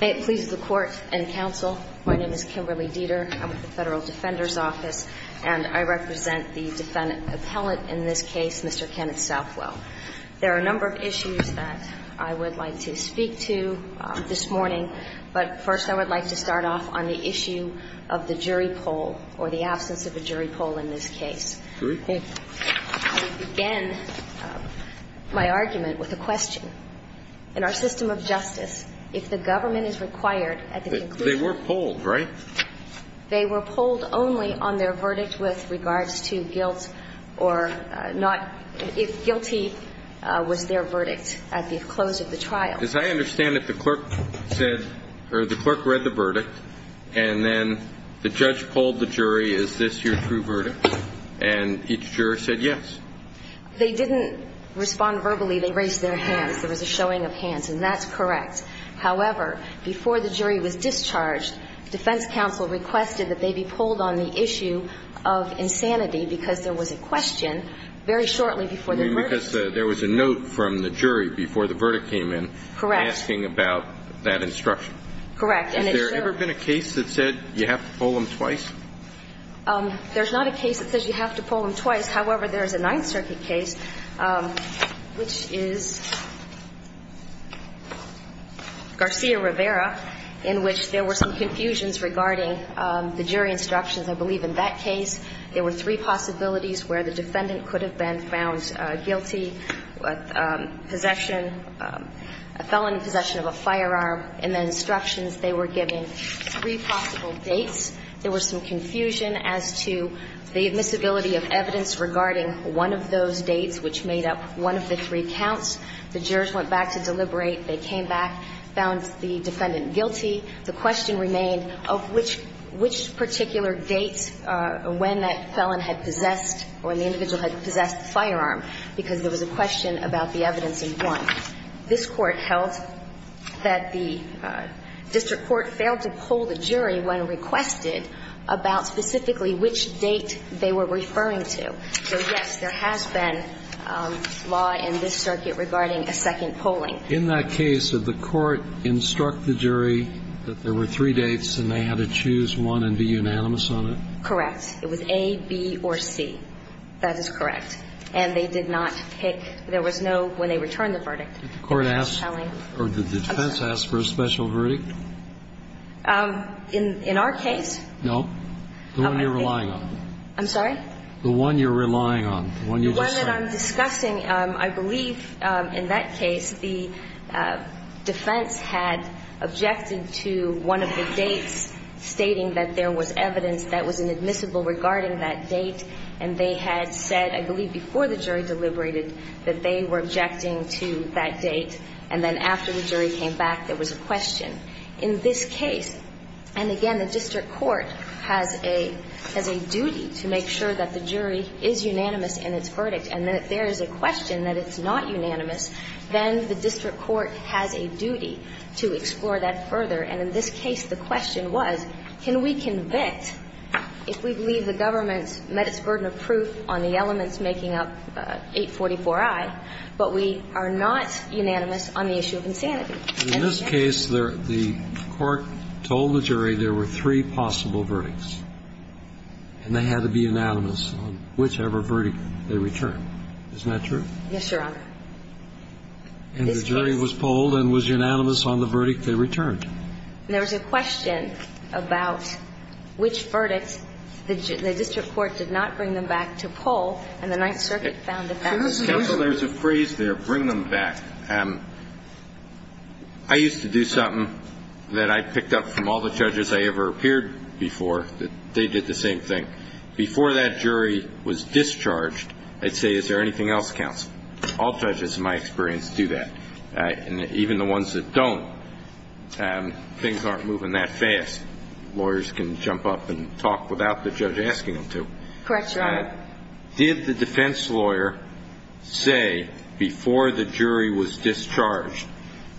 May it please the Court and Counsel, my name is Kimberly Dieter. I'm with the Federal Defender's Office, and I represent the defendant appellate in this case, Mr. Kenneth Southwell. There are a number of issues that I would like to speak to this morning, but first I would like to start off on the issue of the jury poll or the absence of a jury poll in this case. Jury poll? I would begin my argument with a question. In our system of justice, if the government is required at the conclusion They were polled, right? They were polled only on their verdict with regards to guilt or not – if guilty was their verdict at the close of the trial. As I understand it, the clerk said – or the clerk read the verdict, and then the judge polled the jury, is this your true verdict, and each jury said yes. They didn't respond verbally. They raised their hands. There was a showing of hands, and that's correct. However, before the jury was discharged, defense counsel requested that they be polled on the issue of insanity because there was a question very shortly before their verdict. You mean because there was a note from the jury before the verdict came in asking about that instruction. Correct. Has there ever been a case that said you have to poll them twice? There's not a case that says you have to poll them twice. However, there is a Ninth Garcia-Rivera, in which there were some confusions regarding the jury instructions. I believe in that case, there were three possibilities where the defendant could have been found guilty, possession – a felon in possession of a firearm. In the instructions, they were given three possible dates. There was some confusion as to the admissibility of evidence regarding one of those three counts. The jurors went back to deliberate. They came back, found the defendant guilty. The question remained of which particular date when that felon had possessed or when the individual had possessed the firearm, because there was a question about the evidence of one. This Court held that the district court failed to poll the jury when requested about specifically which date they were referring to. So, yes, there has been law in this circuit regarding a second polling. In that case, did the Court instruct the jury that there were three dates and they had to choose one and be unanimous on it? Correct. It was A, B, or C. That is correct. And they did not pick – there was no when they returned the verdict. Did the Court ask – or did the defense ask for a special verdict? In our case? No. The one you're relying on. I'm sorry? The one that I'm discussing, I believe in that case the defense had objected to one of the dates stating that there was evidence that was inadmissible regarding that date, and they had said, I believe before the jury deliberated, that they were objecting to that date. And then after the jury came back, there was a question. In this case, and again, the district court has a duty to make sure that the jury is unanimous in its verdict, and that if there is a question that it's not unanimous, then the district court has a duty to explore that further. And in this case, the question was, can we convict if we believe the government met its burden of proof on the elements making up 844i, but we are not unanimous on the issue of insanity? In this case, the court told the jury there were three possible verdicts, and they had to be unanimous on whichever verdict they returned. Isn't that true? Yes, Your Honor. And the jury was polled and was unanimous on the verdict they returned. There was a question about which verdict the district court did not bring them back to poll, and the Ninth Circuit found that that was unusual. Counsel, there's a phrase there, bring them back. I used to do something that I picked up from all the judges I ever appeared before, that they did the same thing. Before that jury was discharged, they'd say, is there anything else, counsel? All judges, in my experience, do that. And even the ones that don't, things aren't moving that fast. Lawyers can jump up and talk without the judge asking them to. Correct, Your Honor. What did the defense lawyer say before the jury was discharged?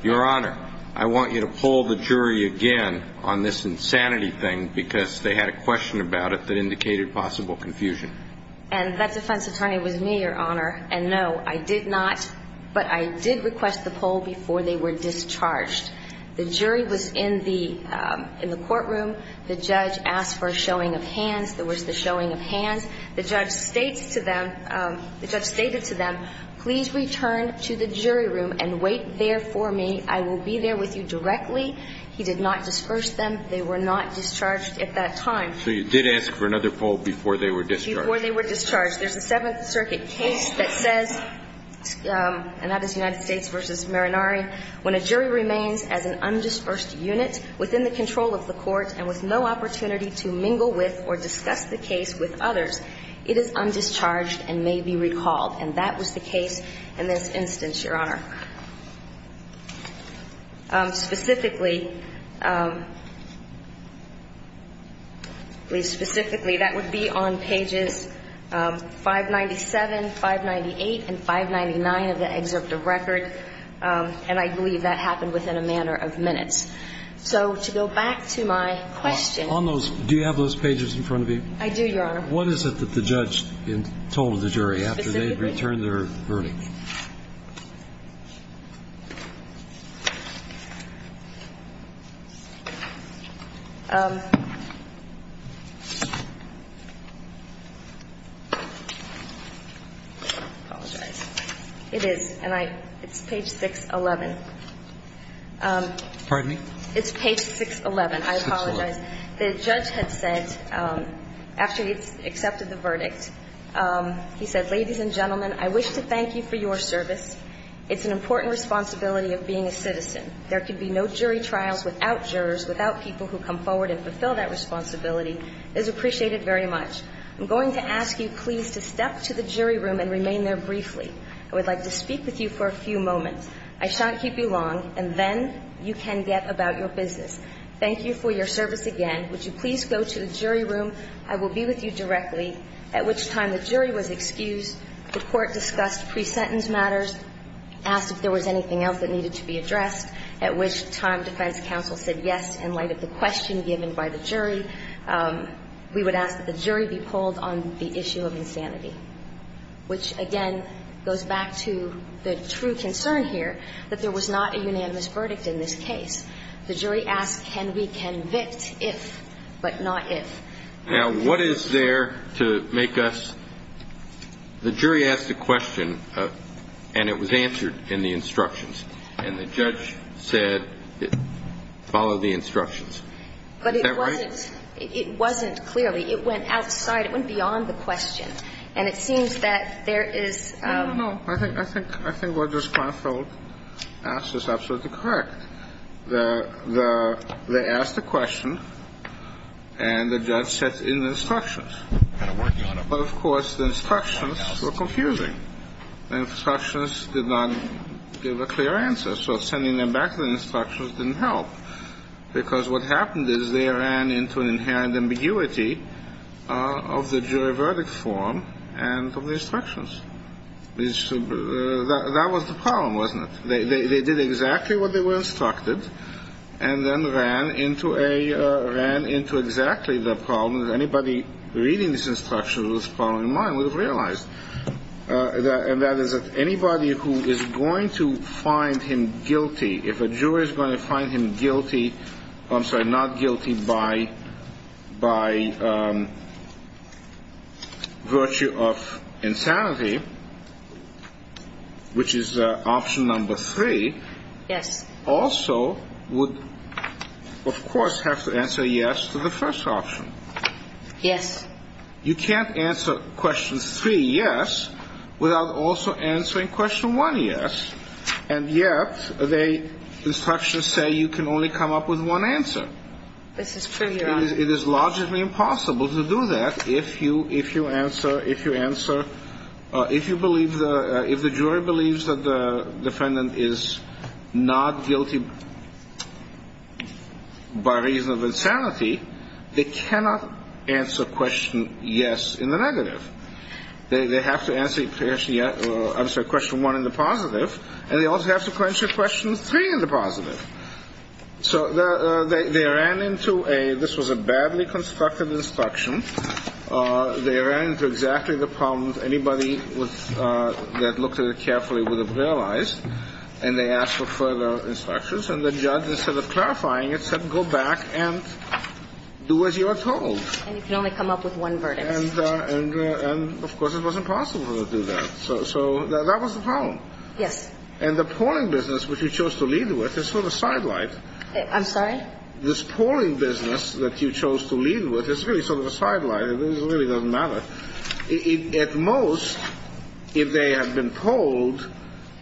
Your Honor, I want you to poll the jury again on this insanity thing, because they had a question about it that indicated possible confusion. And that defense attorney was me, Your Honor, and no, I did not, but I did request the poll before they were discharged. The jury was in the courtroom. The judge asked for a showing of hands. There was the showing of hands. The judge states to them, the judge stated to them, please return to the jury room and wait there for me. I will be there with you directly. He did not disperse them. They were not discharged at that time. So you did ask for another poll before they were discharged. Before they were discharged. There's a Seventh Circuit case that says, and that is United States v. Marinari, when a jury remains as an undispersed unit within the control of the court and with no opportunity to mingle with or discuss the case with others, it is undischarged and may be recalled. And that was the case in this instance, Your Honor. Specifically, please, specifically, that would be on pages 597, 598, and 599 of the excerpt of record. And I believe that happened within a matter of minutes. So to go back to my question. On those, do you have those pages in front of you? I do, Your Honor. What is it that the judge told the jury after they had returned their verdict? Specifically. I apologize. It is, and I, it's page 611. Pardon me? It's page 611. I apologize. 611. The judge had said, after he had accepted the verdict, he said, Ladies and gentlemen, I wish to thank you for your service. It's an important responsibility of being a citizen. There can be no jury trials without jurors, without people who come forward and fulfill that responsibility. It is appreciated very much. I'm going to ask you, please, to step to the jury room and remain there briefly. I would like to speak with you for a few moments. I shan't keep you long. And then you can get about your business. Thank you for your service again. Would you please go to the jury room? I will be with you directly. At which time the jury was excused, the Court discussed pre-sentence matters, asked if there was anything else that needed to be addressed, at which time defense counsel said yes in light of the question given by the jury. We would ask that the jury be polled on the issue of insanity, which, again, goes back to the true concern here, that there was not a unanimous verdict in this case. The jury asked can we convict if, but not if. Now, what is there to make us – the jury asked a question, and it was answered in the instructions. And the judge said follow the instructions. Is that right? But it wasn't – it wasn't clearly. It went outside. It went beyond the question. And it seems that there is – I don't know. I think what this counsel asked is absolutely correct. The – they asked a question, and the judge set in the instructions. But, of course, the instructions were confusing. The instructions did not give a clear answer, so sending them back to the instructions didn't help, because what happened is they ran into inherent ambiguity of the jury verdict form and of the instructions. That was the problem, wasn't it? They did exactly what they were instructed and then ran into a – ran into exactly the problem that anybody reading this instruction with this problem in mind would have realized, and that is that anybody who is going to find him guilty, if a jury is going to find him guilty – I'm sorry, not guilty by virtue of insanity, which is option number three. Yes. Also would, of course, have to answer yes to the first option. Yes. You can't answer question three yes without also answering question one yes. And yet the instructions say you can only come up with one answer. This is pretty wrong. It is largely impossible to do that if you answer – if you answer – if you believe the – if the jury believes that the defendant is not guilty by reason of insanity, they cannot answer question yes in the negative. They have to answer – I'm sorry, question one in the positive, and they also have to answer question three in the positive. So they ran into a – this was a badly constructed instruction. They ran into exactly the problem anybody was – that looked at it carefully would have realized, and they asked for further instructions. And the judge, instead of clarifying it, said go back and do as you are told. And you can only come up with one verdict. And, of course, it was impossible to do that. So that was the problem. Yes. And the polling business, which you chose to lead with, is sort of sidelined. I'm sorry? This polling business that you chose to lead with is really sort of a sideline. It really doesn't matter. At most, if they had been polled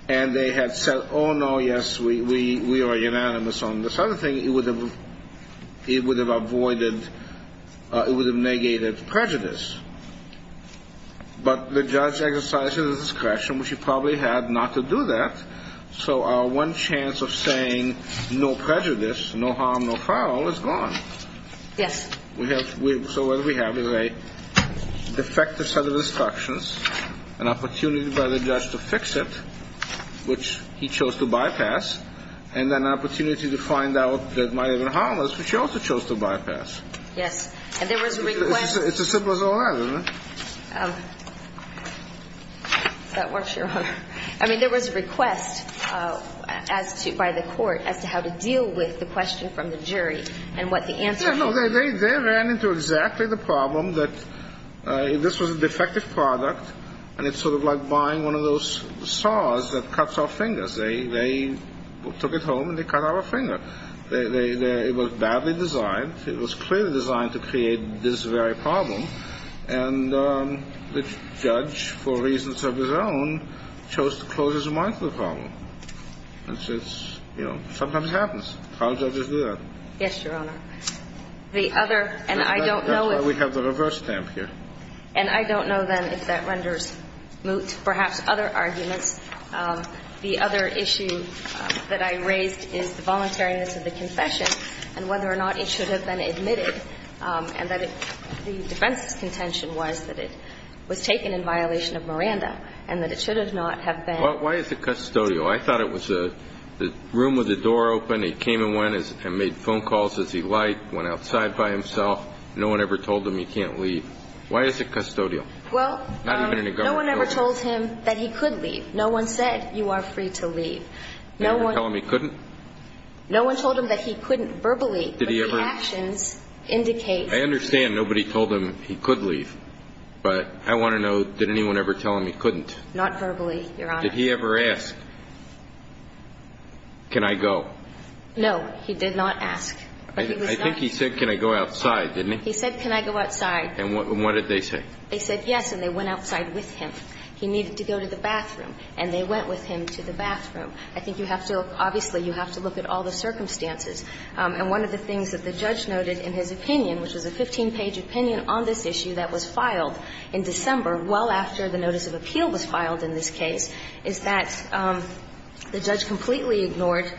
and they had said, oh, no, yes, we are unanimous on this other thing, it would have avoided – it would have negated prejudice. But the judge exercises discretion, which he probably had not to do that. So our one chance of saying no prejudice, no harm, no foul is gone. Yes. So what we have is a defective set of instructions, an opportunity by the judge to fix it, which he chose to bypass, and an opportunity to find out that might have been harmless, which he also chose to bypass. Yes. And there was a request – It's as simple as all that, isn't it? That works, Your Honor. I mean, there was a request as to – by the court as to how to deal with the question from the jury and what the answer was. No, no. They ran into exactly the problem that this was a defective product, and it's sort of like buying one of those saws that cuts our fingers. They took it home and they cut our finger. It was badly designed. It was clearly designed to create this very problem. And the judge, for reasons of his own, chose to close his mind to the problem. It's – you know, sometimes it happens. How do judges do that? Yes, Your Honor. The other – and I don't know if – That's why we have the reverse stamp here. And I don't know, then, if that renders moot perhaps other arguments. The other issue that I raised is the voluntariness of the confession and whether or not it should have been admitted, and that the defense's contention was that it was taken in violation of Miranda and that it should have not have been. Well, why is it custodial? I thought it was a – the room with the door open, he came and went and made phone calls as he liked, went outside by himself. No one ever told him he can't leave. Why is it custodial? Well, no one ever told him that he could leave. No one said you are free to leave. Did anyone tell him he couldn't? No one told him that he couldn't verbally. Did he ever – But the actions indicate – I understand nobody told him he could leave. But I want to know, did anyone ever tell him he couldn't? Not verbally, Your Honor. Did he ever ask, can I go? No, he did not ask. I think he said, can I go outside, didn't he? He said, can I go outside. And what did they say? They said yes, and they went outside with him. He needed to go to the bathroom, and they went with him to the bathroom. I think you have to – obviously, you have to look at all the circumstances. And one of the things that the judge noted in his opinion, which was a 15-page opinion on this issue that was filed in December well after the notice of appeal was filed in this case, is that the judge completely ignored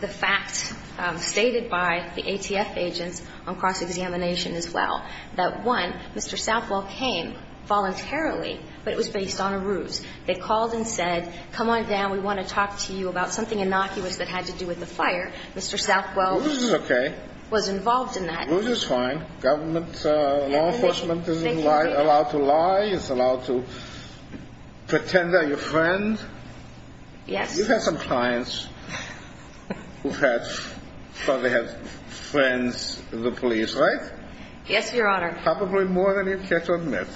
the fact stated by the ATF agents on cross-examination as well. That, one, Mr. Southwell came voluntarily, but it was based on a ruse. They called and said, come on down, we want to talk to you about something innocuous that had to do with the fire. Mr. Southwell – Ruse is okay. – was involved in that. Ruse is fine. Government law enforcement isn't allowed to lie. It's allowed to pretend they're your friend. Yes. You've had some clients who've had – probably have friends in the police, right? Yes, Your Honor. Probably more than you've yet to admit.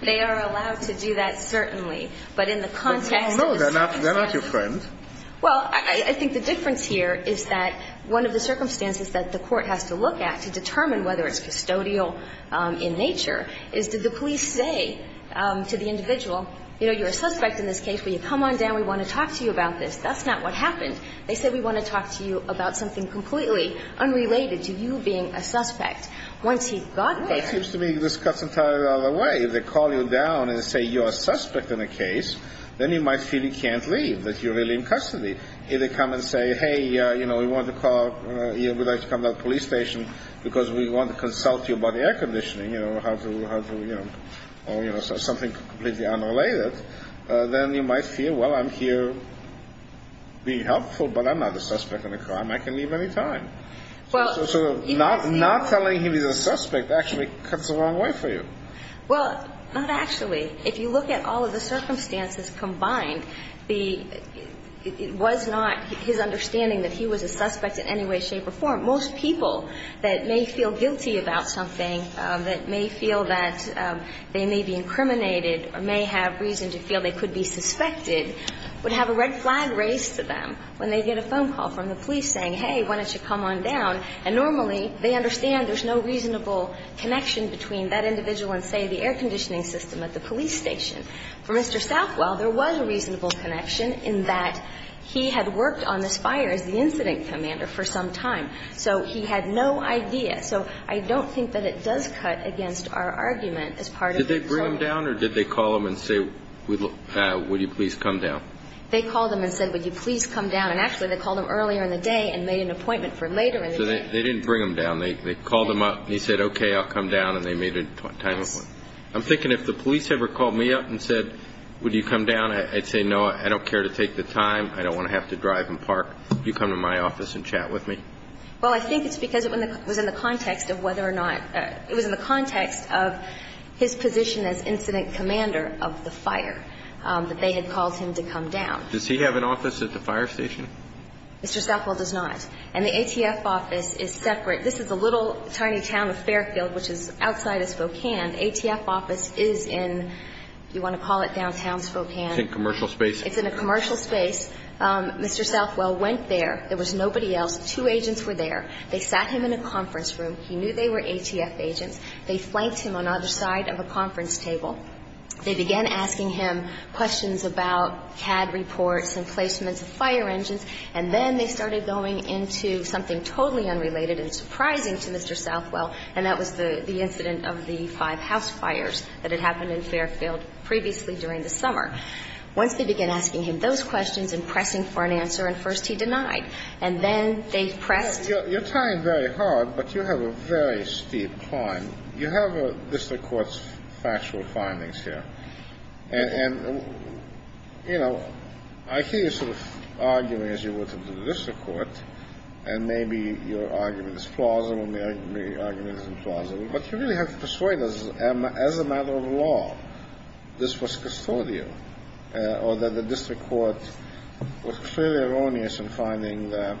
They are allowed to do that, certainly. But in the context – No, no. They're not your friend. Well, I think the difference here is that one of the circumstances that the Court has to look at to determine whether it's custodial in nature is did the police say to the individual, you know, you're a suspect in this case, will you come on down, we want to talk to you about this? That's not what happened. They said, we want to talk to you about something completely unrelated to you being a suspect. Once he got there – Well, it seems to me this cuts entirely the other way. If they call you down and say, you're a suspect in a case, then you might feel you can't leave, that you're really in custody. If they come and say, hey, you know, we want to call – you would like to come to the police station because we want to consult you about air conditioning, you know, how to, you know – or, you know, something completely unrelated, then you might feel, well, I'm here being helpful, but I'm not a suspect in a crime. I can leave any time. So not telling him he's a suspect actually cuts the wrong way for you. Well, not actually. If you look at all of the circumstances combined, it was not his understanding that he was a suspect in any way, shape, or form. Most people that may feel guilty about something, that may feel that they may be guilty, would have a red flag raised to them when they get a phone call from the police saying, hey, why don't you come on down. And normally, they understand there's no reasonable connection between that individual and, say, the air conditioning system at the police station. For Mr. Southwell, there was a reasonable connection in that he had worked on this fire as the incident commander for some time. So he had no idea. So I don't think that it does cut against our argument as part of the claim. Would you please come down? Or did they call him and say, would you please come down? They called him and said, would you please come down. And actually, they called him earlier in the day and made an appointment for later in the day. So they didn't bring him down. They called him up and he said, okay, I'll come down. And they made an appointment. Yes. I'm thinking if the police ever called me up and said, would you come down, I'd say, no, I don't care to take the time. I don't want to have to drive and park. You come to my office and chat with me. Well, I think it's because it was in the context of whether or not – it was in the position as incident commander of the fire that they had called him to come down. Does he have an office at the fire station? Mr. Southwell does not. And the ATF office is separate. This is a little tiny town of Fairfield, which is outside of Spokane. The ATF office is in – do you want to call it downtown Spokane? It's in commercial space. It's in a commercial space. Mr. Southwell went there. There was nobody else. Two agents were there. They sat him in a conference room. He knew they were ATF agents. They flanked him on either side of a conference table. They began asking him questions about CAD reports and placements of fire engines, and then they started going into something totally unrelated and surprising to Mr. Southwell, and that was the incident of the five house fires that had happened in Fairfield previously during the summer. Once they began asking him those questions and pressing for an answer, at first he denied. And then they pressed – You're tying very hard, but you have a very steep climb. You have a district court's factual findings here. And, you know, I see you sort of arguing as you would to the district court, and maybe your argument is plausible, maybe the argument isn't plausible, but you really have to persuade us as a matter of law this was custodial or that the district court was clearly erroneous in finding that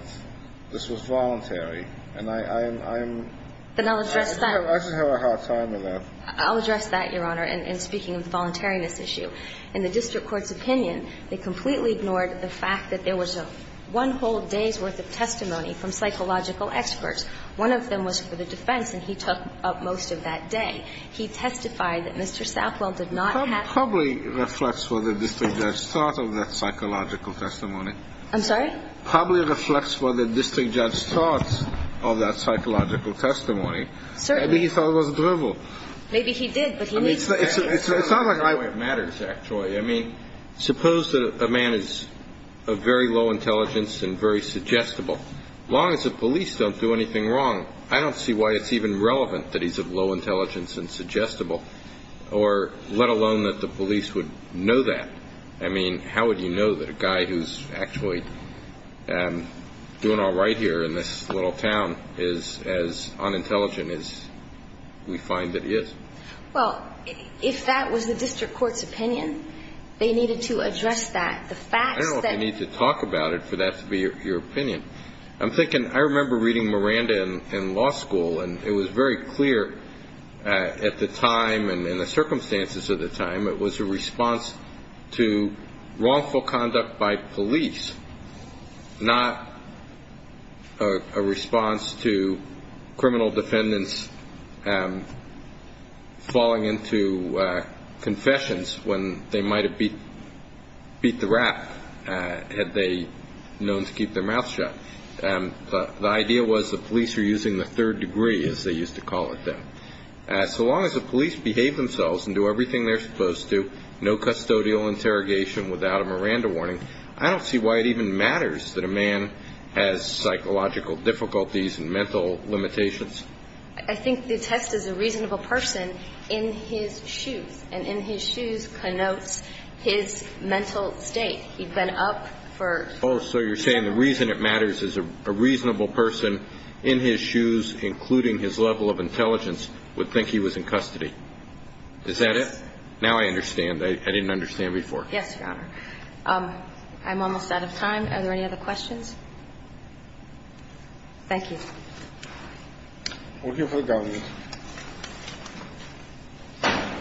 this was voluntary. And I'm – Then I'll address that. I just have a hard time with that. I'll address that, Your Honor, in speaking of the voluntariness issue. In the district court's opinion, they completely ignored the fact that there was one whole day's worth of testimony from psychological experts. One of them was for the defense, and he took up most of that day. He testified that Mr. Southwell did not have – That probably reflects what the district judge thought of that psychological testimony. I'm sorry? Probably reflects what the district judge thought of that psychological testimony. Certainly. Maybe he thought it was drivel. Maybe he did, but he needs to clarify. It's not like I – It matters, actually. I mean, suppose that a man is of very low intelligence and very suggestible. As long as the police don't do anything wrong, I don't see why it's even relevant that he's of low intelligence and suggestible, or let alone that the police would know that. I mean, how would you know that a guy who's actually doing all right here in this little town is as unintelligent as we find that he is? Well, if that was the district court's opinion, they needed to address that. The facts that – I don't know if you need to talk about it for that to be your opinion. I'm thinking – I remember reading Miranda in law school, and it was very clear at the time and in the circumstances of the time, it was a response to wrongful conduct by police, not a response to criminal defendants falling into confessions when they might have beat the rap had they known to keep their mouth shut. The idea was the police were using the third degree, as they used to call it then. So long as the police behave themselves and do everything they're supposed to, no custodial interrogation without a Miranda warning, I don't see why it even matters that a man has psychological difficulties and mental limitations. I think the test is a reasonable person in his shoes, and in his shoes connotes his mental state. He'd been up for several hours. Oh, so you're saying the reason it matters is a reasonable person in his shoes, including his level of intelligence, would think he was in custody. Is that it? Now I understand. I didn't understand before. Yes, Your Honor. I'm almost out of time. Are there any other questions? Thank you. We're here for the government. Are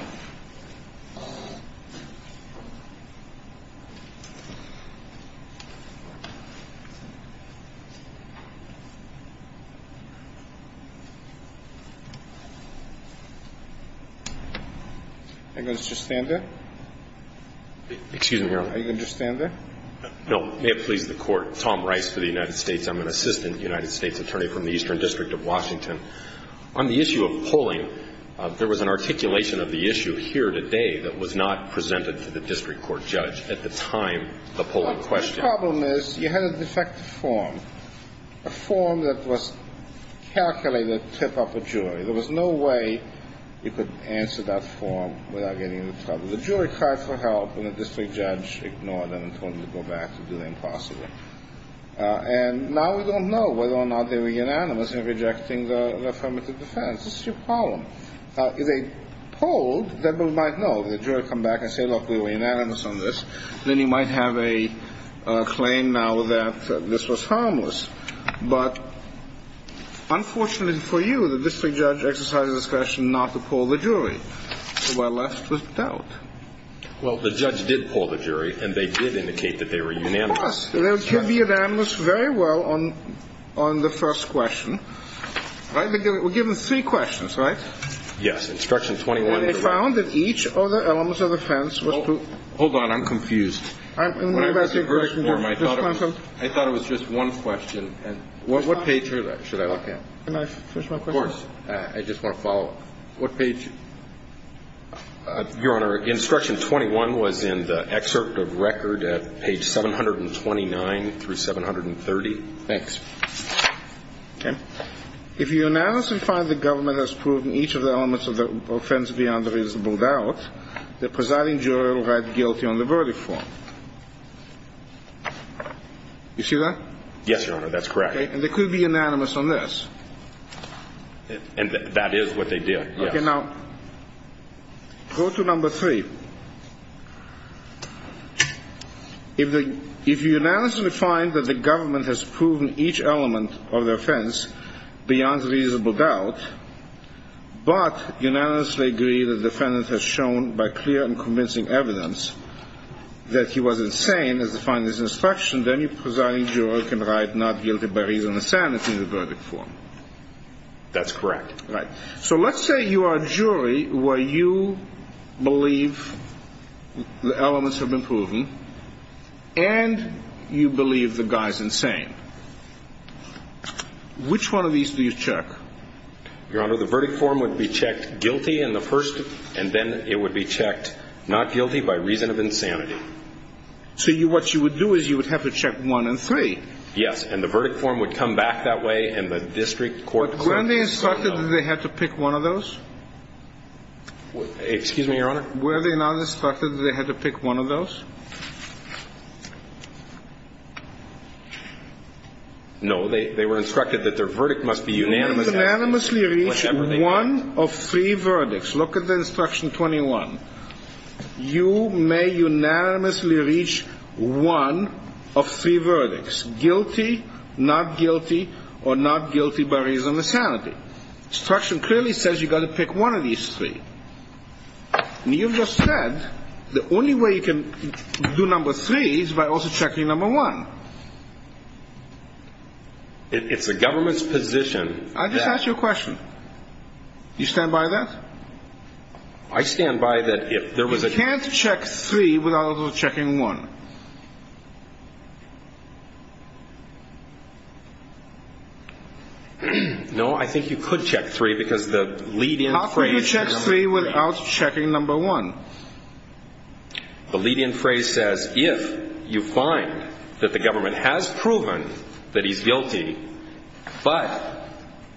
you going to just stand there? Excuse me, Your Honor. Are you going to just stand there? No. May it please the Court, Tom Rice for the United States. I'm an assistant United States attorney from the Eastern District of Washington. On the issue of polling, there was an articulation of the issue here today that was not presented to the district court judge at the time the polling question. The problem is you had a defective form, a form that was calculated to tip up a jury. There was no way you could answer that form without getting into trouble. The jury cried for help, and the district judge ignored them and told them to go back and do the impossible. And now we don't know whether or not they were unanimous in rejecting the affirmative defense. This is your problem. If they polled, then we might know. The jury would come back and say, look, we were unanimous on this. Then you might have a claim now that this was harmless. But unfortunately for you, the district judge exercised his discretion not to poll the jury. So we're left with doubt. Well, the judge did poll the jury, and they did indicate that they were unanimous. They were unanimous very well on the first question. We're given three questions, right? Yes. Instruction 21. And they found that each of the elements of the defense was true. Hold on. I'm confused. I thought it was just one question. What page should I look at? Can I finish my question? Of course. I just want to follow up. What page? Your Honor, instruction 21 was in the excerpt of record at page 729 through 730. Thanks. Okay. If you unanimously find the government has proven each of the elements of the offense beyond reasonable doubt, the presiding jury will write guilty on the verdict form. You see that? Yes, Your Honor, that's correct. Okay. And they could be unanimous on this. And that is what they did, yes. Okay. Now, go to number three. If you unanimously find that the government has proven each element of the offense beyond reasonable doubt, but unanimously agree that the defendant has shown by clear and convincing evidence that he was insane, as defined in this instruction, then the presiding jury can write not guilty by reason of insanity in the verdict form. That's correct. Right. So let's say you are a jury where you believe the elements have been proven, and you believe the guy's insane. Which one of these do you check? Your Honor, the verdict form would be checked guilty in the first, and then it would be checked not guilty by reason of insanity. So what you would do is you would have to check one and three. Yes. And the verdict form would come back that way, and the district court would say no. Were they instructed that they had to pick one of those? Excuse me, Your Honor? Were they not instructed that they had to pick one of those? No. They were instructed that their verdict must be unanimous. Unanimously reach one of three verdicts. Look at the instruction 21. You may unanimously reach one of three verdicts, guilty, not guilty, or not guilty by reason of insanity. But the instruction clearly says you've got to pick one of these three. And you've just said the only way you can do number three is by also checking number one. It's the government's position that... I just asked you a question. Do you stand by that? I stand by that if there was a... You can't check three without also checking one. No, I think you could check three because the lead-in phrase... How could you check three without checking number one? The lead-in phrase says if you find that the government has proven that he's guilty, but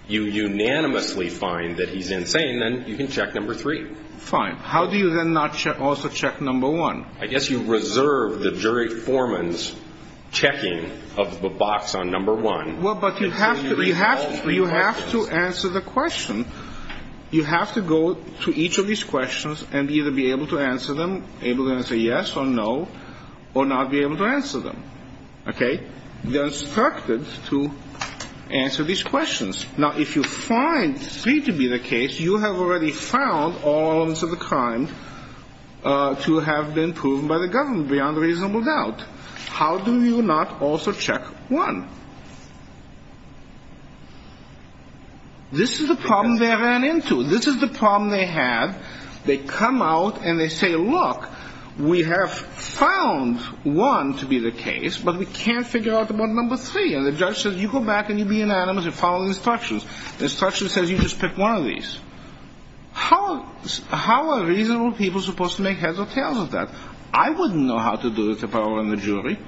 you unanimously find that he's insane, then you can check number three. Fine. How do you then not also check number one? I guess you reserve the jury foreman's checking of the box on number one. Well, but you have to answer the question. You have to go to each of these questions and either be able to answer them, able to say yes or no, or not be able to answer them. Okay? They're instructed to answer these questions. Now, if you find three to be the case, you have already found all elements of the crime to have been proven by the government beyond reasonable doubt. How do you not also check one? This is the problem they ran into. This is the problem they had. They come out and they say, look, we have found one to be the case, but we can't figure out about number three. And the judge says, you go back and you be anonymous and follow the instructions. The instructions says you just pick one of these. How are reasonable people supposed to make heads or tails of that? I wouldn't know how to do it if I were in the jury.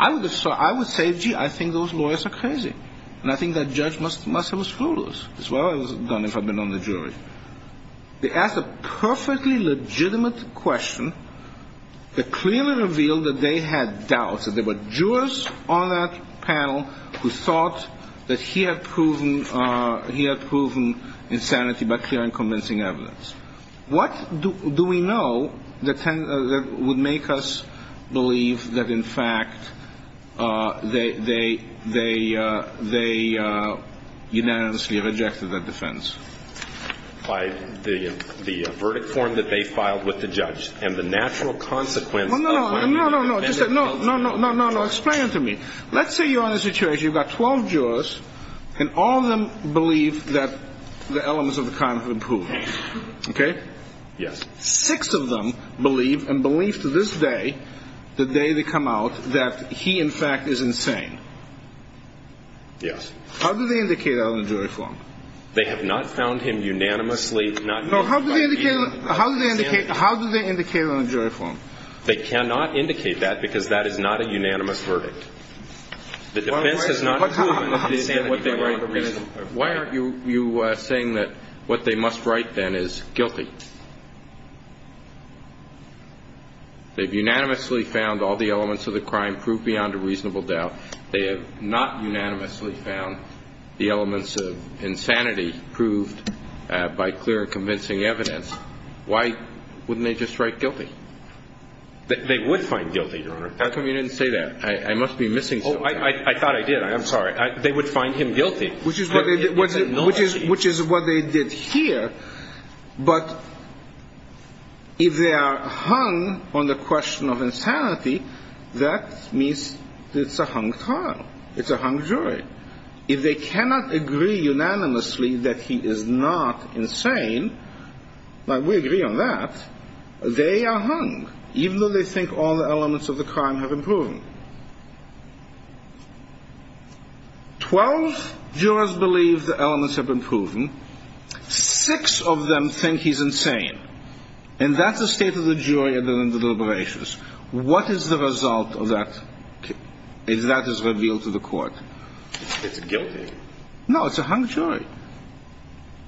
I would say, gee, I think those lawyers are crazy. And I think that judge must have been screwed as well as done if I'd been on the jury. They asked a perfectly legitimate question that clearly revealed that they had doubts, that there were jurors on that panel who thought that he had proven insanity by clearing convincing evidence. What do we know that would make us believe that, in fact, they unanimously rejected that defense? By the verdict form that they filed with the judge and the natural consequence of that. No, no, no, no, no, no, no, no, no, no. Explain it to me. Let's say you're in a situation. You've got 12 jurors and all of them believe that the elements of the crime have improved. OK? Yes. Six of them believe and believe to this day, the day they come out, that he, in fact, is insane. Yes. How do they indicate that on the jury form? They have not found him unanimously not guilty. How do they indicate on the jury form? They cannot indicate that because that is not a unanimous verdict. The defense has not proven that what they write is reasonable. Why aren't you saying that what they must write, then, is guilty? They've unanimously found all the elements of the crime proved beyond a reasonable doubt. They have not unanimously found the elements of insanity proved by clear and convincing evidence. Why wouldn't they just write guilty? They would find guilty, Your Honor. How come you didn't say that? I must be missing something. Oh, I thought I did. I'm sorry. They would find him guilty. Which is what they did here. But if they are hung on the question of insanity, that means it's a hung trial. It's a hung jury. If they cannot agree unanimously that he is not insane, like we agree on that, they are hung, even though they think all the elements of the crime have been proven. Twelve jurors believe the elements have been proven. Six of them think he's insane. And that's the state of the jury under the deliberations. What is the result of that if that is revealed to the court? It's guilty. No, it's a hung jury.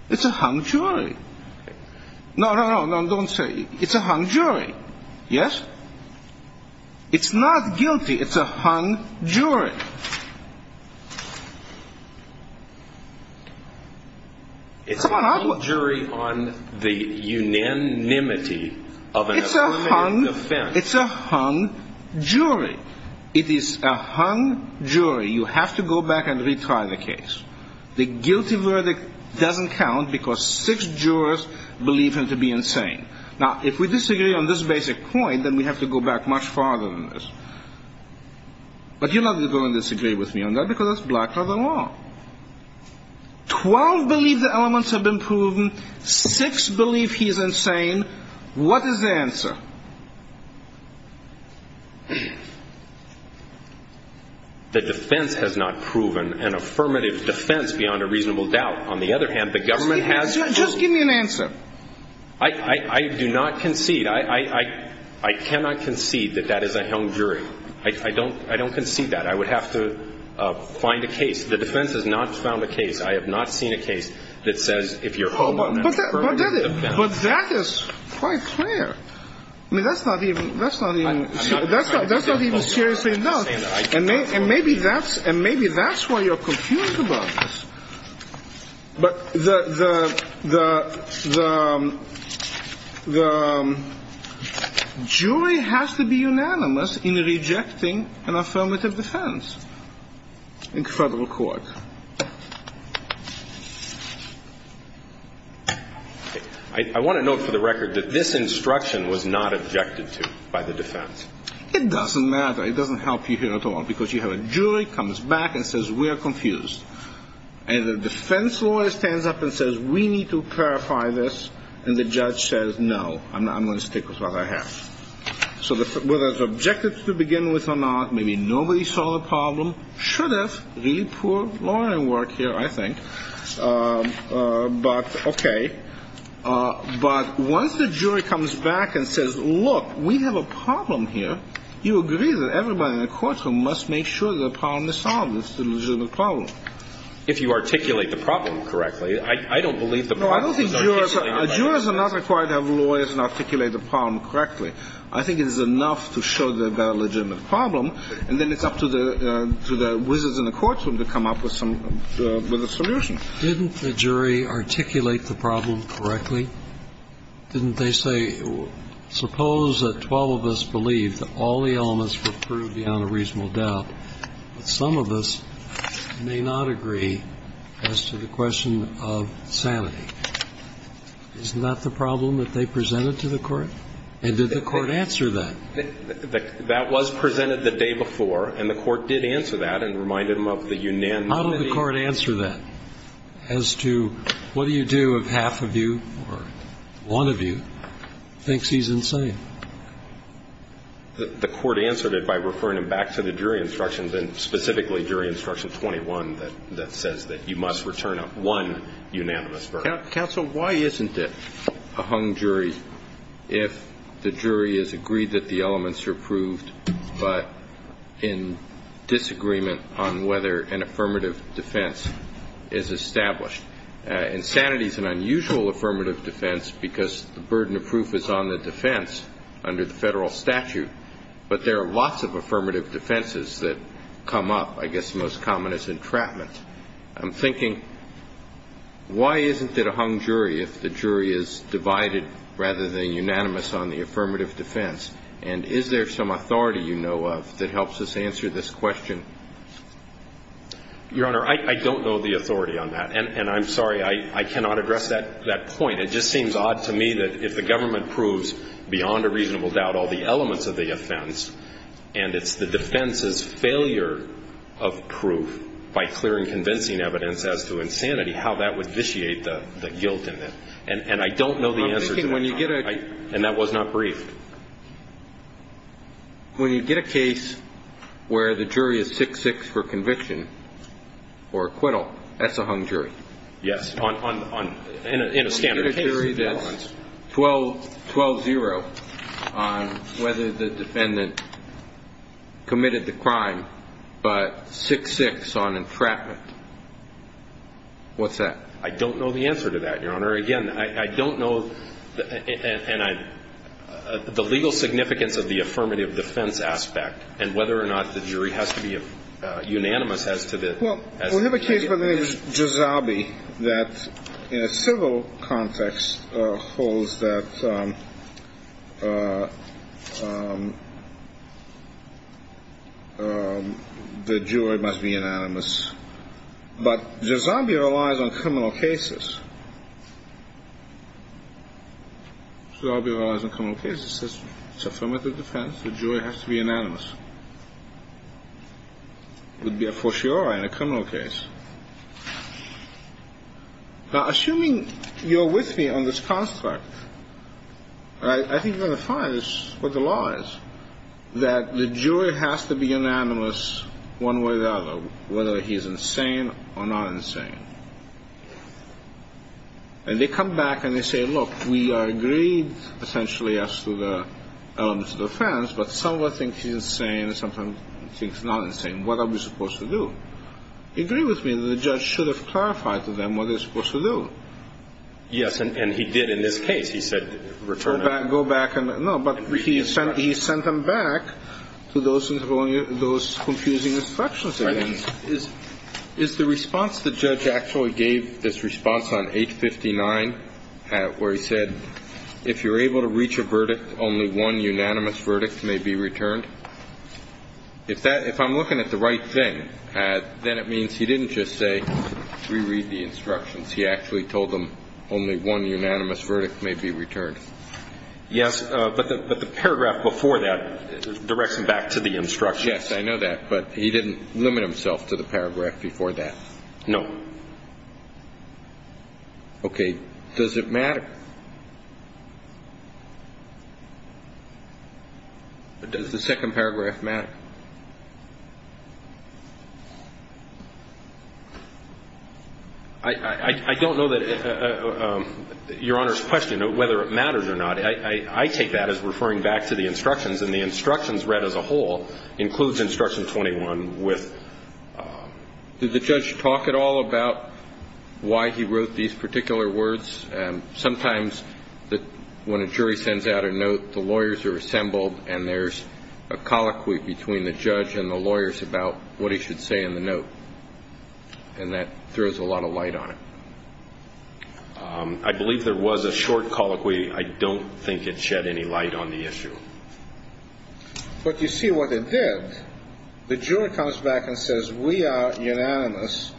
It's a hung jury. No, no, no, don't say it. It's a hung jury. Yes? It's not guilty. It's a hung jury. It's a hung jury on the unanimity of an affirmative defense. It's a hung jury. It is a hung jury. You have to go back and retry the case. The guilty verdict doesn't count because six jurors believe him to be insane. Now, if we disagree on this basic point, then we have to go back much farther than this. But you're not going to disagree with me on that because that's black-letter law. Twelve believe the elements have been proven. Six believe he is insane. What is the answer? The defense has not proven an affirmative defense beyond a reasonable doubt. On the other hand, the government has proven. Just give me an answer. I do not concede. I cannot concede that that is a hung jury. I don't concede that. I would have to find a case. The defense has not found a case. I have not seen a case that says if you're hung on an affirmative defense. But that is quite clear. I mean, that's not even seriously enough. And maybe that's why you're confused about this. But the jury has to be unanimous in rejecting an affirmative defense in federal court. I want to note for the record that this instruction was not objected to by the defense. It doesn't matter. It doesn't help you here at all because you have a jury comes back and says we are confused. And the defense lawyer stands up and says we need to clarify this. And the judge says no. I'm going to stick with what I have. So whether it's objected to begin with or not, maybe nobody saw the problem. Should have. Really poor lawyering work here, I think. But okay. But once the jury comes back and says, look, we have a problem here, you agree that everybody in the courtroom must make sure the problem is solved, it's a legitimate problem. If you articulate the problem correctly. I don't believe the problem is articulated. No, I don't think jurors are. Jurors are not required to have lawyers and articulate the problem correctly. I think it is enough to show they've got a legitimate problem, and then it's up to the wizards in the courtroom to come up with some other solution. Didn't the jury articulate the problem correctly? Didn't they say suppose that 12 of us believe that all the elements were proved beyond a reasonable doubt, but some of us may not agree as to the question of sanity. Isn't that the problem that they presented to the court? And did the court answer that? That was presented the day before, and the court did answer that and reminded them of the unanimity. How did the court answer that as to what do you do if half of you or one of you thinks he's insane? The court answered it by referring him back to the jury instructions, and specifically jury instruction 21 that says that you must return up one unanimous verdict. Counsel, why isn't it a hung jury if the jury has agreed that the elements are proved, but in disagreement on whether an affirmative defense is established? Insanity is an unusual affirmative defense because the burden of proof is on the defense under the federal statute, but there are lots of affirmative defenses that come up. I guess the most common is entrapment. I'm thinking why isn't it a hung jury if the jury is divided rather than unanimous on the affirmative defense? And is there some authority you know of that helps us answer this question? Your Honor, I don't know the authority on that. And I'm sorry, I cannot address that point. It just seems odd to me that if the government proves beyond a reasonable doubt all the elements of the offense, and it's the defense's failure of proof by clearing convincing evidence as to insanity, how that would vitiate the guilt in it. And I don't know the answer to that. And that was not briefed. When you get a case where the jury is 6-6 for conviction or acquittal, that's a hung jury. Yes, in a standard case. When you get a jury that's 12-0 on whether the defendant committed the crime but 6-6 on entrapment, what's that? I don't know the answer to that, Your Honor. Again, I don't know the legal significance of the affirmative defense aspect and whether or not the jury has to be unanimous as to the case. Well, we have a case by the name of Giuseppe that in a civil context holds that the jury must be unanimous. But Giuseppe relies on criminal cases. Giuseppe relies on criminal cases. It's affirmative defense. The jury has to be unanimous. It would be a fortiori in a criminal case. Now, assuming you're with me on this construct, I think you're going to find this is what the law is, that the jury has to be unanimous one way or the other, whether he's insane or not insane. And they come back and they say, look, we agreed essentially as to the elements of the offense, but someone thinks he's insane and someone thinks he's not insane. What are we supposed to do? Agree with me that the judge should have clarified to them what they're supposed to do. Yes, and he did in this case. He said, return it. Go back. No, but he sent them back to those confusing instructions. Is the response the judge actually gave this response on H-59 where he said, if you're able to reach a verdict, only one unanimous verdict may be returned? If I'm looking at the right thing, then it means he didn't just say, reread the instructions. He actually told them only one unanimous verdict may be returned. Yes, but the paragraph before that directs him back to the instructions. Yes, I know that, but he didn't limit himself to the paragraph before that. No. Okay. Does it matter? Does the second paragraph matter? I don't know that Your Honor's question, whether it matters or not. I take that as referring back to the instructions, and the instructions read as a whole includes Instruction 21 with. Did the judge talk at all about why he wrote these particular words? Sometimes when a jury sends out a note, the lawyers are assembled and there's a colloquy between the judge and the lawyers about what he should say in the note, and that throws a lot of light on it. I believe there was a short colloquy. I don't think it shed any light on the issue. But you see what it did. The jury comes back and says, we are unanimous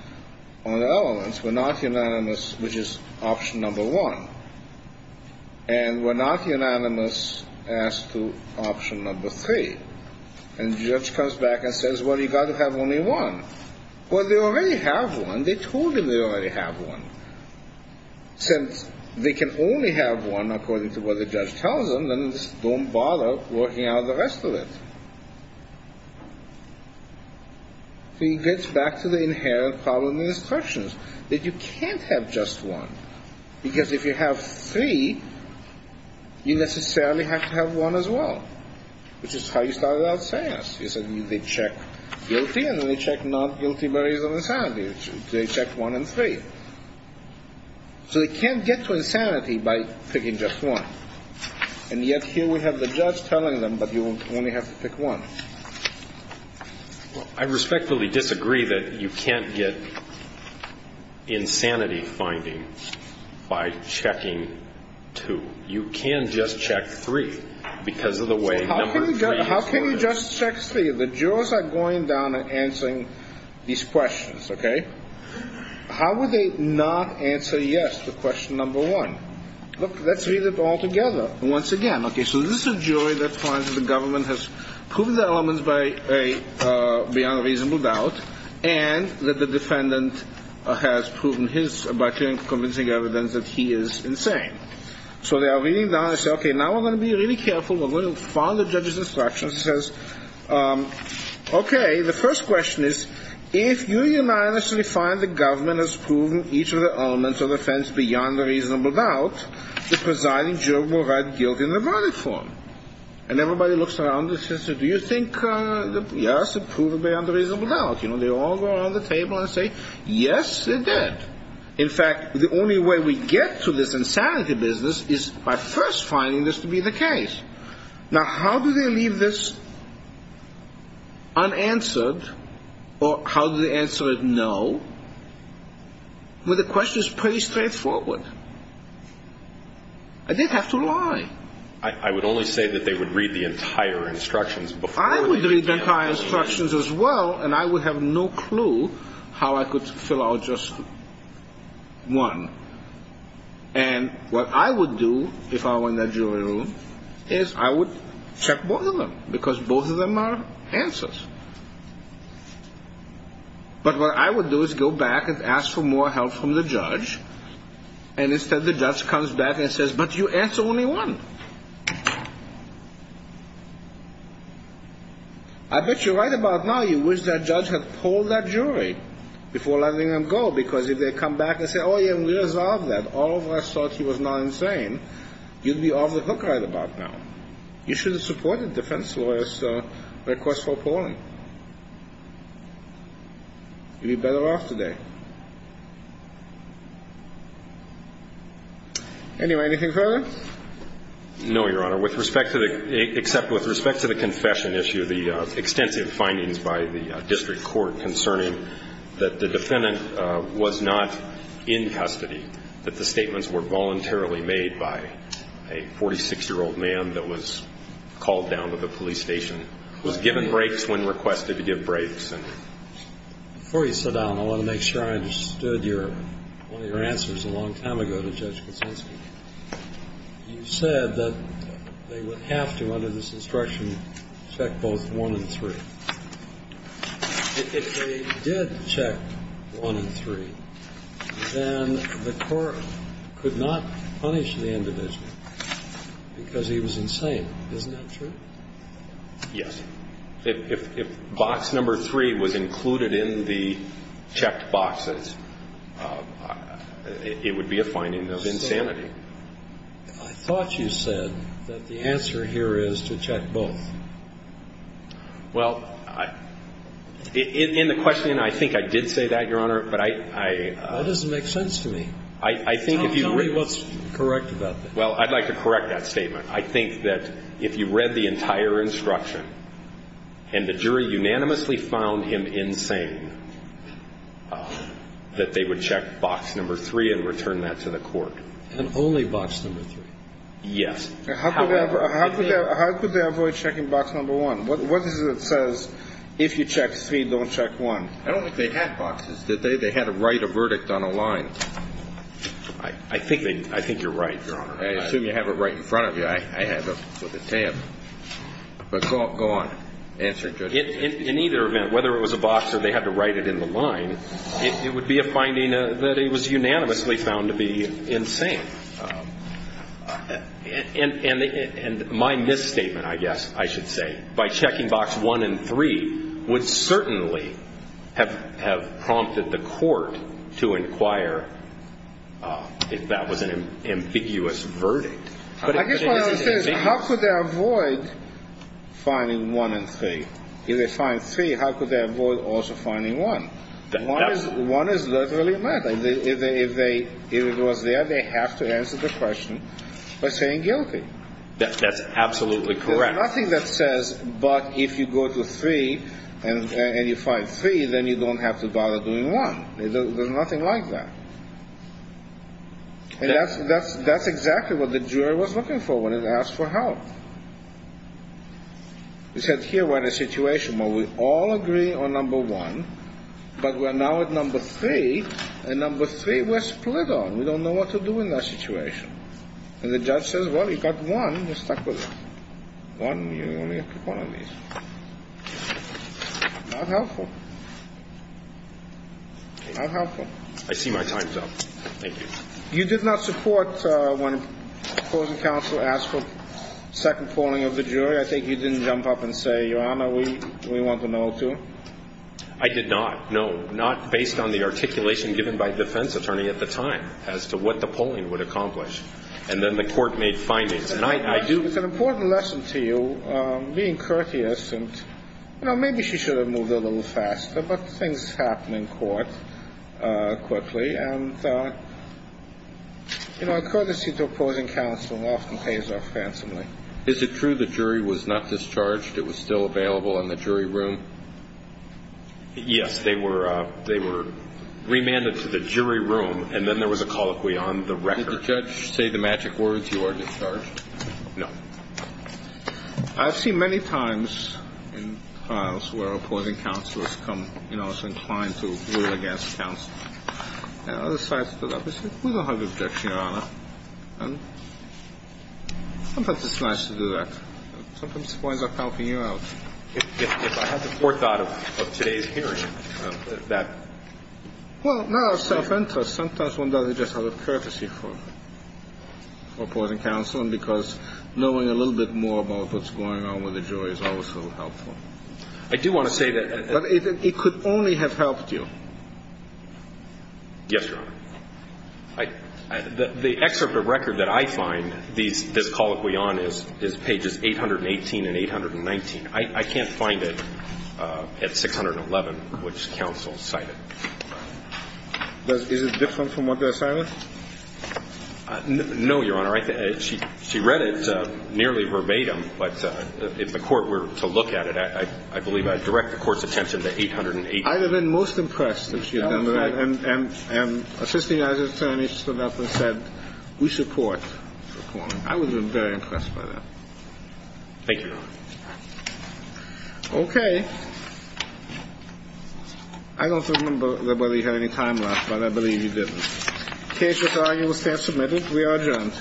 on the elements. We're not unanimous, which is option number one. And we're not unanimous as to option number three. And the judge comes back and says, well, you've got to have only one. Well, they already have one. They told him they already have one. Since they can only have one according to what the judge tells them, then just don't bother working out the rest of it. So he gets back to the inherent problem in the instructions, that you can't have just one. Because if you have three, you necessarily have to have one as well, which is how he started out saying it. He said they check guilty, and then they check not guilty by reason of insanity. They check one and three. So they can't get to insanity by picking just one. And yet here we have the judge telling them that you only have to pick one. I respectfully disagree that you can't get insanity finding by checking two. You can just check three because of the way number three is organized. How can you just check three? The jurors are going down and answering these questions, okay? How would they not answer yes to question number one? Look, let's read it all together once again. Okay, so this is a jury that finds that the government has proven their elements beyond a reasonable doubt and that the defendant has proven his by clearly convincing evidence that he is insane. So they are reading down. They say, okay, now we're going to be really careful. We're going to follow the judge's instructions. He says, okay, the first question is, if you unanimously find the government has proven each of their elements of offense beyond a reasonable doubt, the presiding juror will write guilt in the verdict form. And everybody looks around and says, do you think, yes, it proved beyond a reasonable doubt. You know, they all go around the table and say, yes, it did. In fact, the only way we get to this insanity business is by first finding this to be the case. Now, how do they leave this unanswered or how do they answer it no? Well, the question is pretty straightforward. I didn't have to lie. I would only say that they would read the entire instructions before. I would read the entire instructions as well, and I would have no clue how I could fill out just one. And what I would do if I were in that jury room is I would check both of them because both of them are answers. But what I would do is go back and ask for more help from the judge, and instead the judge comes back and says, but you answer only one. I bet you right about now you wish that judge had polled that jury before letting them go, because if they come back and say, oh, yeah, we resolved that, all of us thought he was not insane, you'd be off the hook right about now. You should have supported defense lawyers' request for polling. You'd be better off today. Anyway, anything further? No, Your Honor, except with respect to the confession issue, the extensive findings by the district court concerning that the defendant was not in custody, that the statements were voluntarily made by a 46-year-old man that was called down to the police station, was given breaks when requested to give breaks. Before you sit down, I want to make sure I understood one of your answers a long time ago to Judge Kuczynski. You said that they would have to, under this instruction, check both one and three. If they did check one and three, then the court could not punish the individual because he was insane. Isn't that true? Yes. If box number three was included in the checked boxes, it would be a finding of insanity. I thought you said that the answer here is to check both. Well, in the question, I think I did say that, Your Honor. That doesn't make sense to me. Tell me what's correct about that. Well, I'd like to correct that statement. I think that if you read the entire instruction and the jury unanimously found him insane, that they would check box number three and return that to the court. And only box number three? Yes. How could they avoid checking box number one? What is it that says, if you check three, don't check one? I don't think they had boxes, did they? They had to write a verdict on a line. I think you're right, Your Honor. I assume you have it right in front of you. I have it with a tab. But go on. Answer, Judge. In either event, whether it was a box or they had to write it in the line, it would be a finding that he was unanimously found to be insane. And my misstatement, I guess I should say, by checking box one and three, would certainly have prompted the court to inquire if that was an ambiguous verdict. I guess what I'm saying is how could they avoid finding one and three? If they find three, how could they avoid also finding one? One is literally a method. If it was there, they have to answer the question by saying guilty. That's absolutely correct. There's nothing that says, but if you go to three and you find three, then you don't have to bother doing one. There's nothing like that. And that's exactly what the jury was looking for when it asked for help. It said here we're in a situation where we all agree on number one, but we're now at number three, and number three we're split on. We don't know what to do in that situation. And the judge says, well, you've got one. You're stuck with it. One, you only get one of these. Not helpful. Not helpful. I see my time's up. Thank you. You did not support when the closing counsel asked for second polling of the jury. I think you didn't jump up and say, Your Honor, we want to know, too. I did not. No, not based on the articulation given by the defense attorney at the time as to what the polling would accomplish. And then the court made findings. It's an important lesson to you, being courteous. Maybe she should have moved a little faster, but things happen in court quickly. And, you know, a courtesy to opposing counsel often pays off handsomely. Is it true the jury was not discharged? It was still available in the jury room? Yes. They were remanded to the jury room, and then there was a colloquy on the record. Did your judge say the magic words, you are discharged? No. I've seen many times in trials where opposing counsel has come, you know, is inclined to rule against counsel. And the other side stood up and said, we don't have an objection, Your Honor. And sometimes it's nice to do that. Sometimes it winds up helping you out. If I had the forethought of today's hearing, that would have saved me. Well, not out of self-interest. Sometimes one does it just out of courtesy for opposing counsel and because knowing a little bit more about what's going on with the jury is also helpful. I do want to say that it could only have helped you. Yes, Your Honor. The excerpt of record that I find this colloquy on is pages 818 and 819. I can't find it at 611, which counsel cited. Is it different from what they're citing? No, Your Honor. She read it nearly verbatim. But if the Court were to look at it, I believe I'd direct the Court's attention to 818. I have been most impressed that she had done that. And assisting as attorney stood up and said, we support. I was very impressed by that. Thank you, Your Honor. Okay. I don't remember whether you had any time left, but I believe you didn't. Case with argument staff submitted. We are adjourned.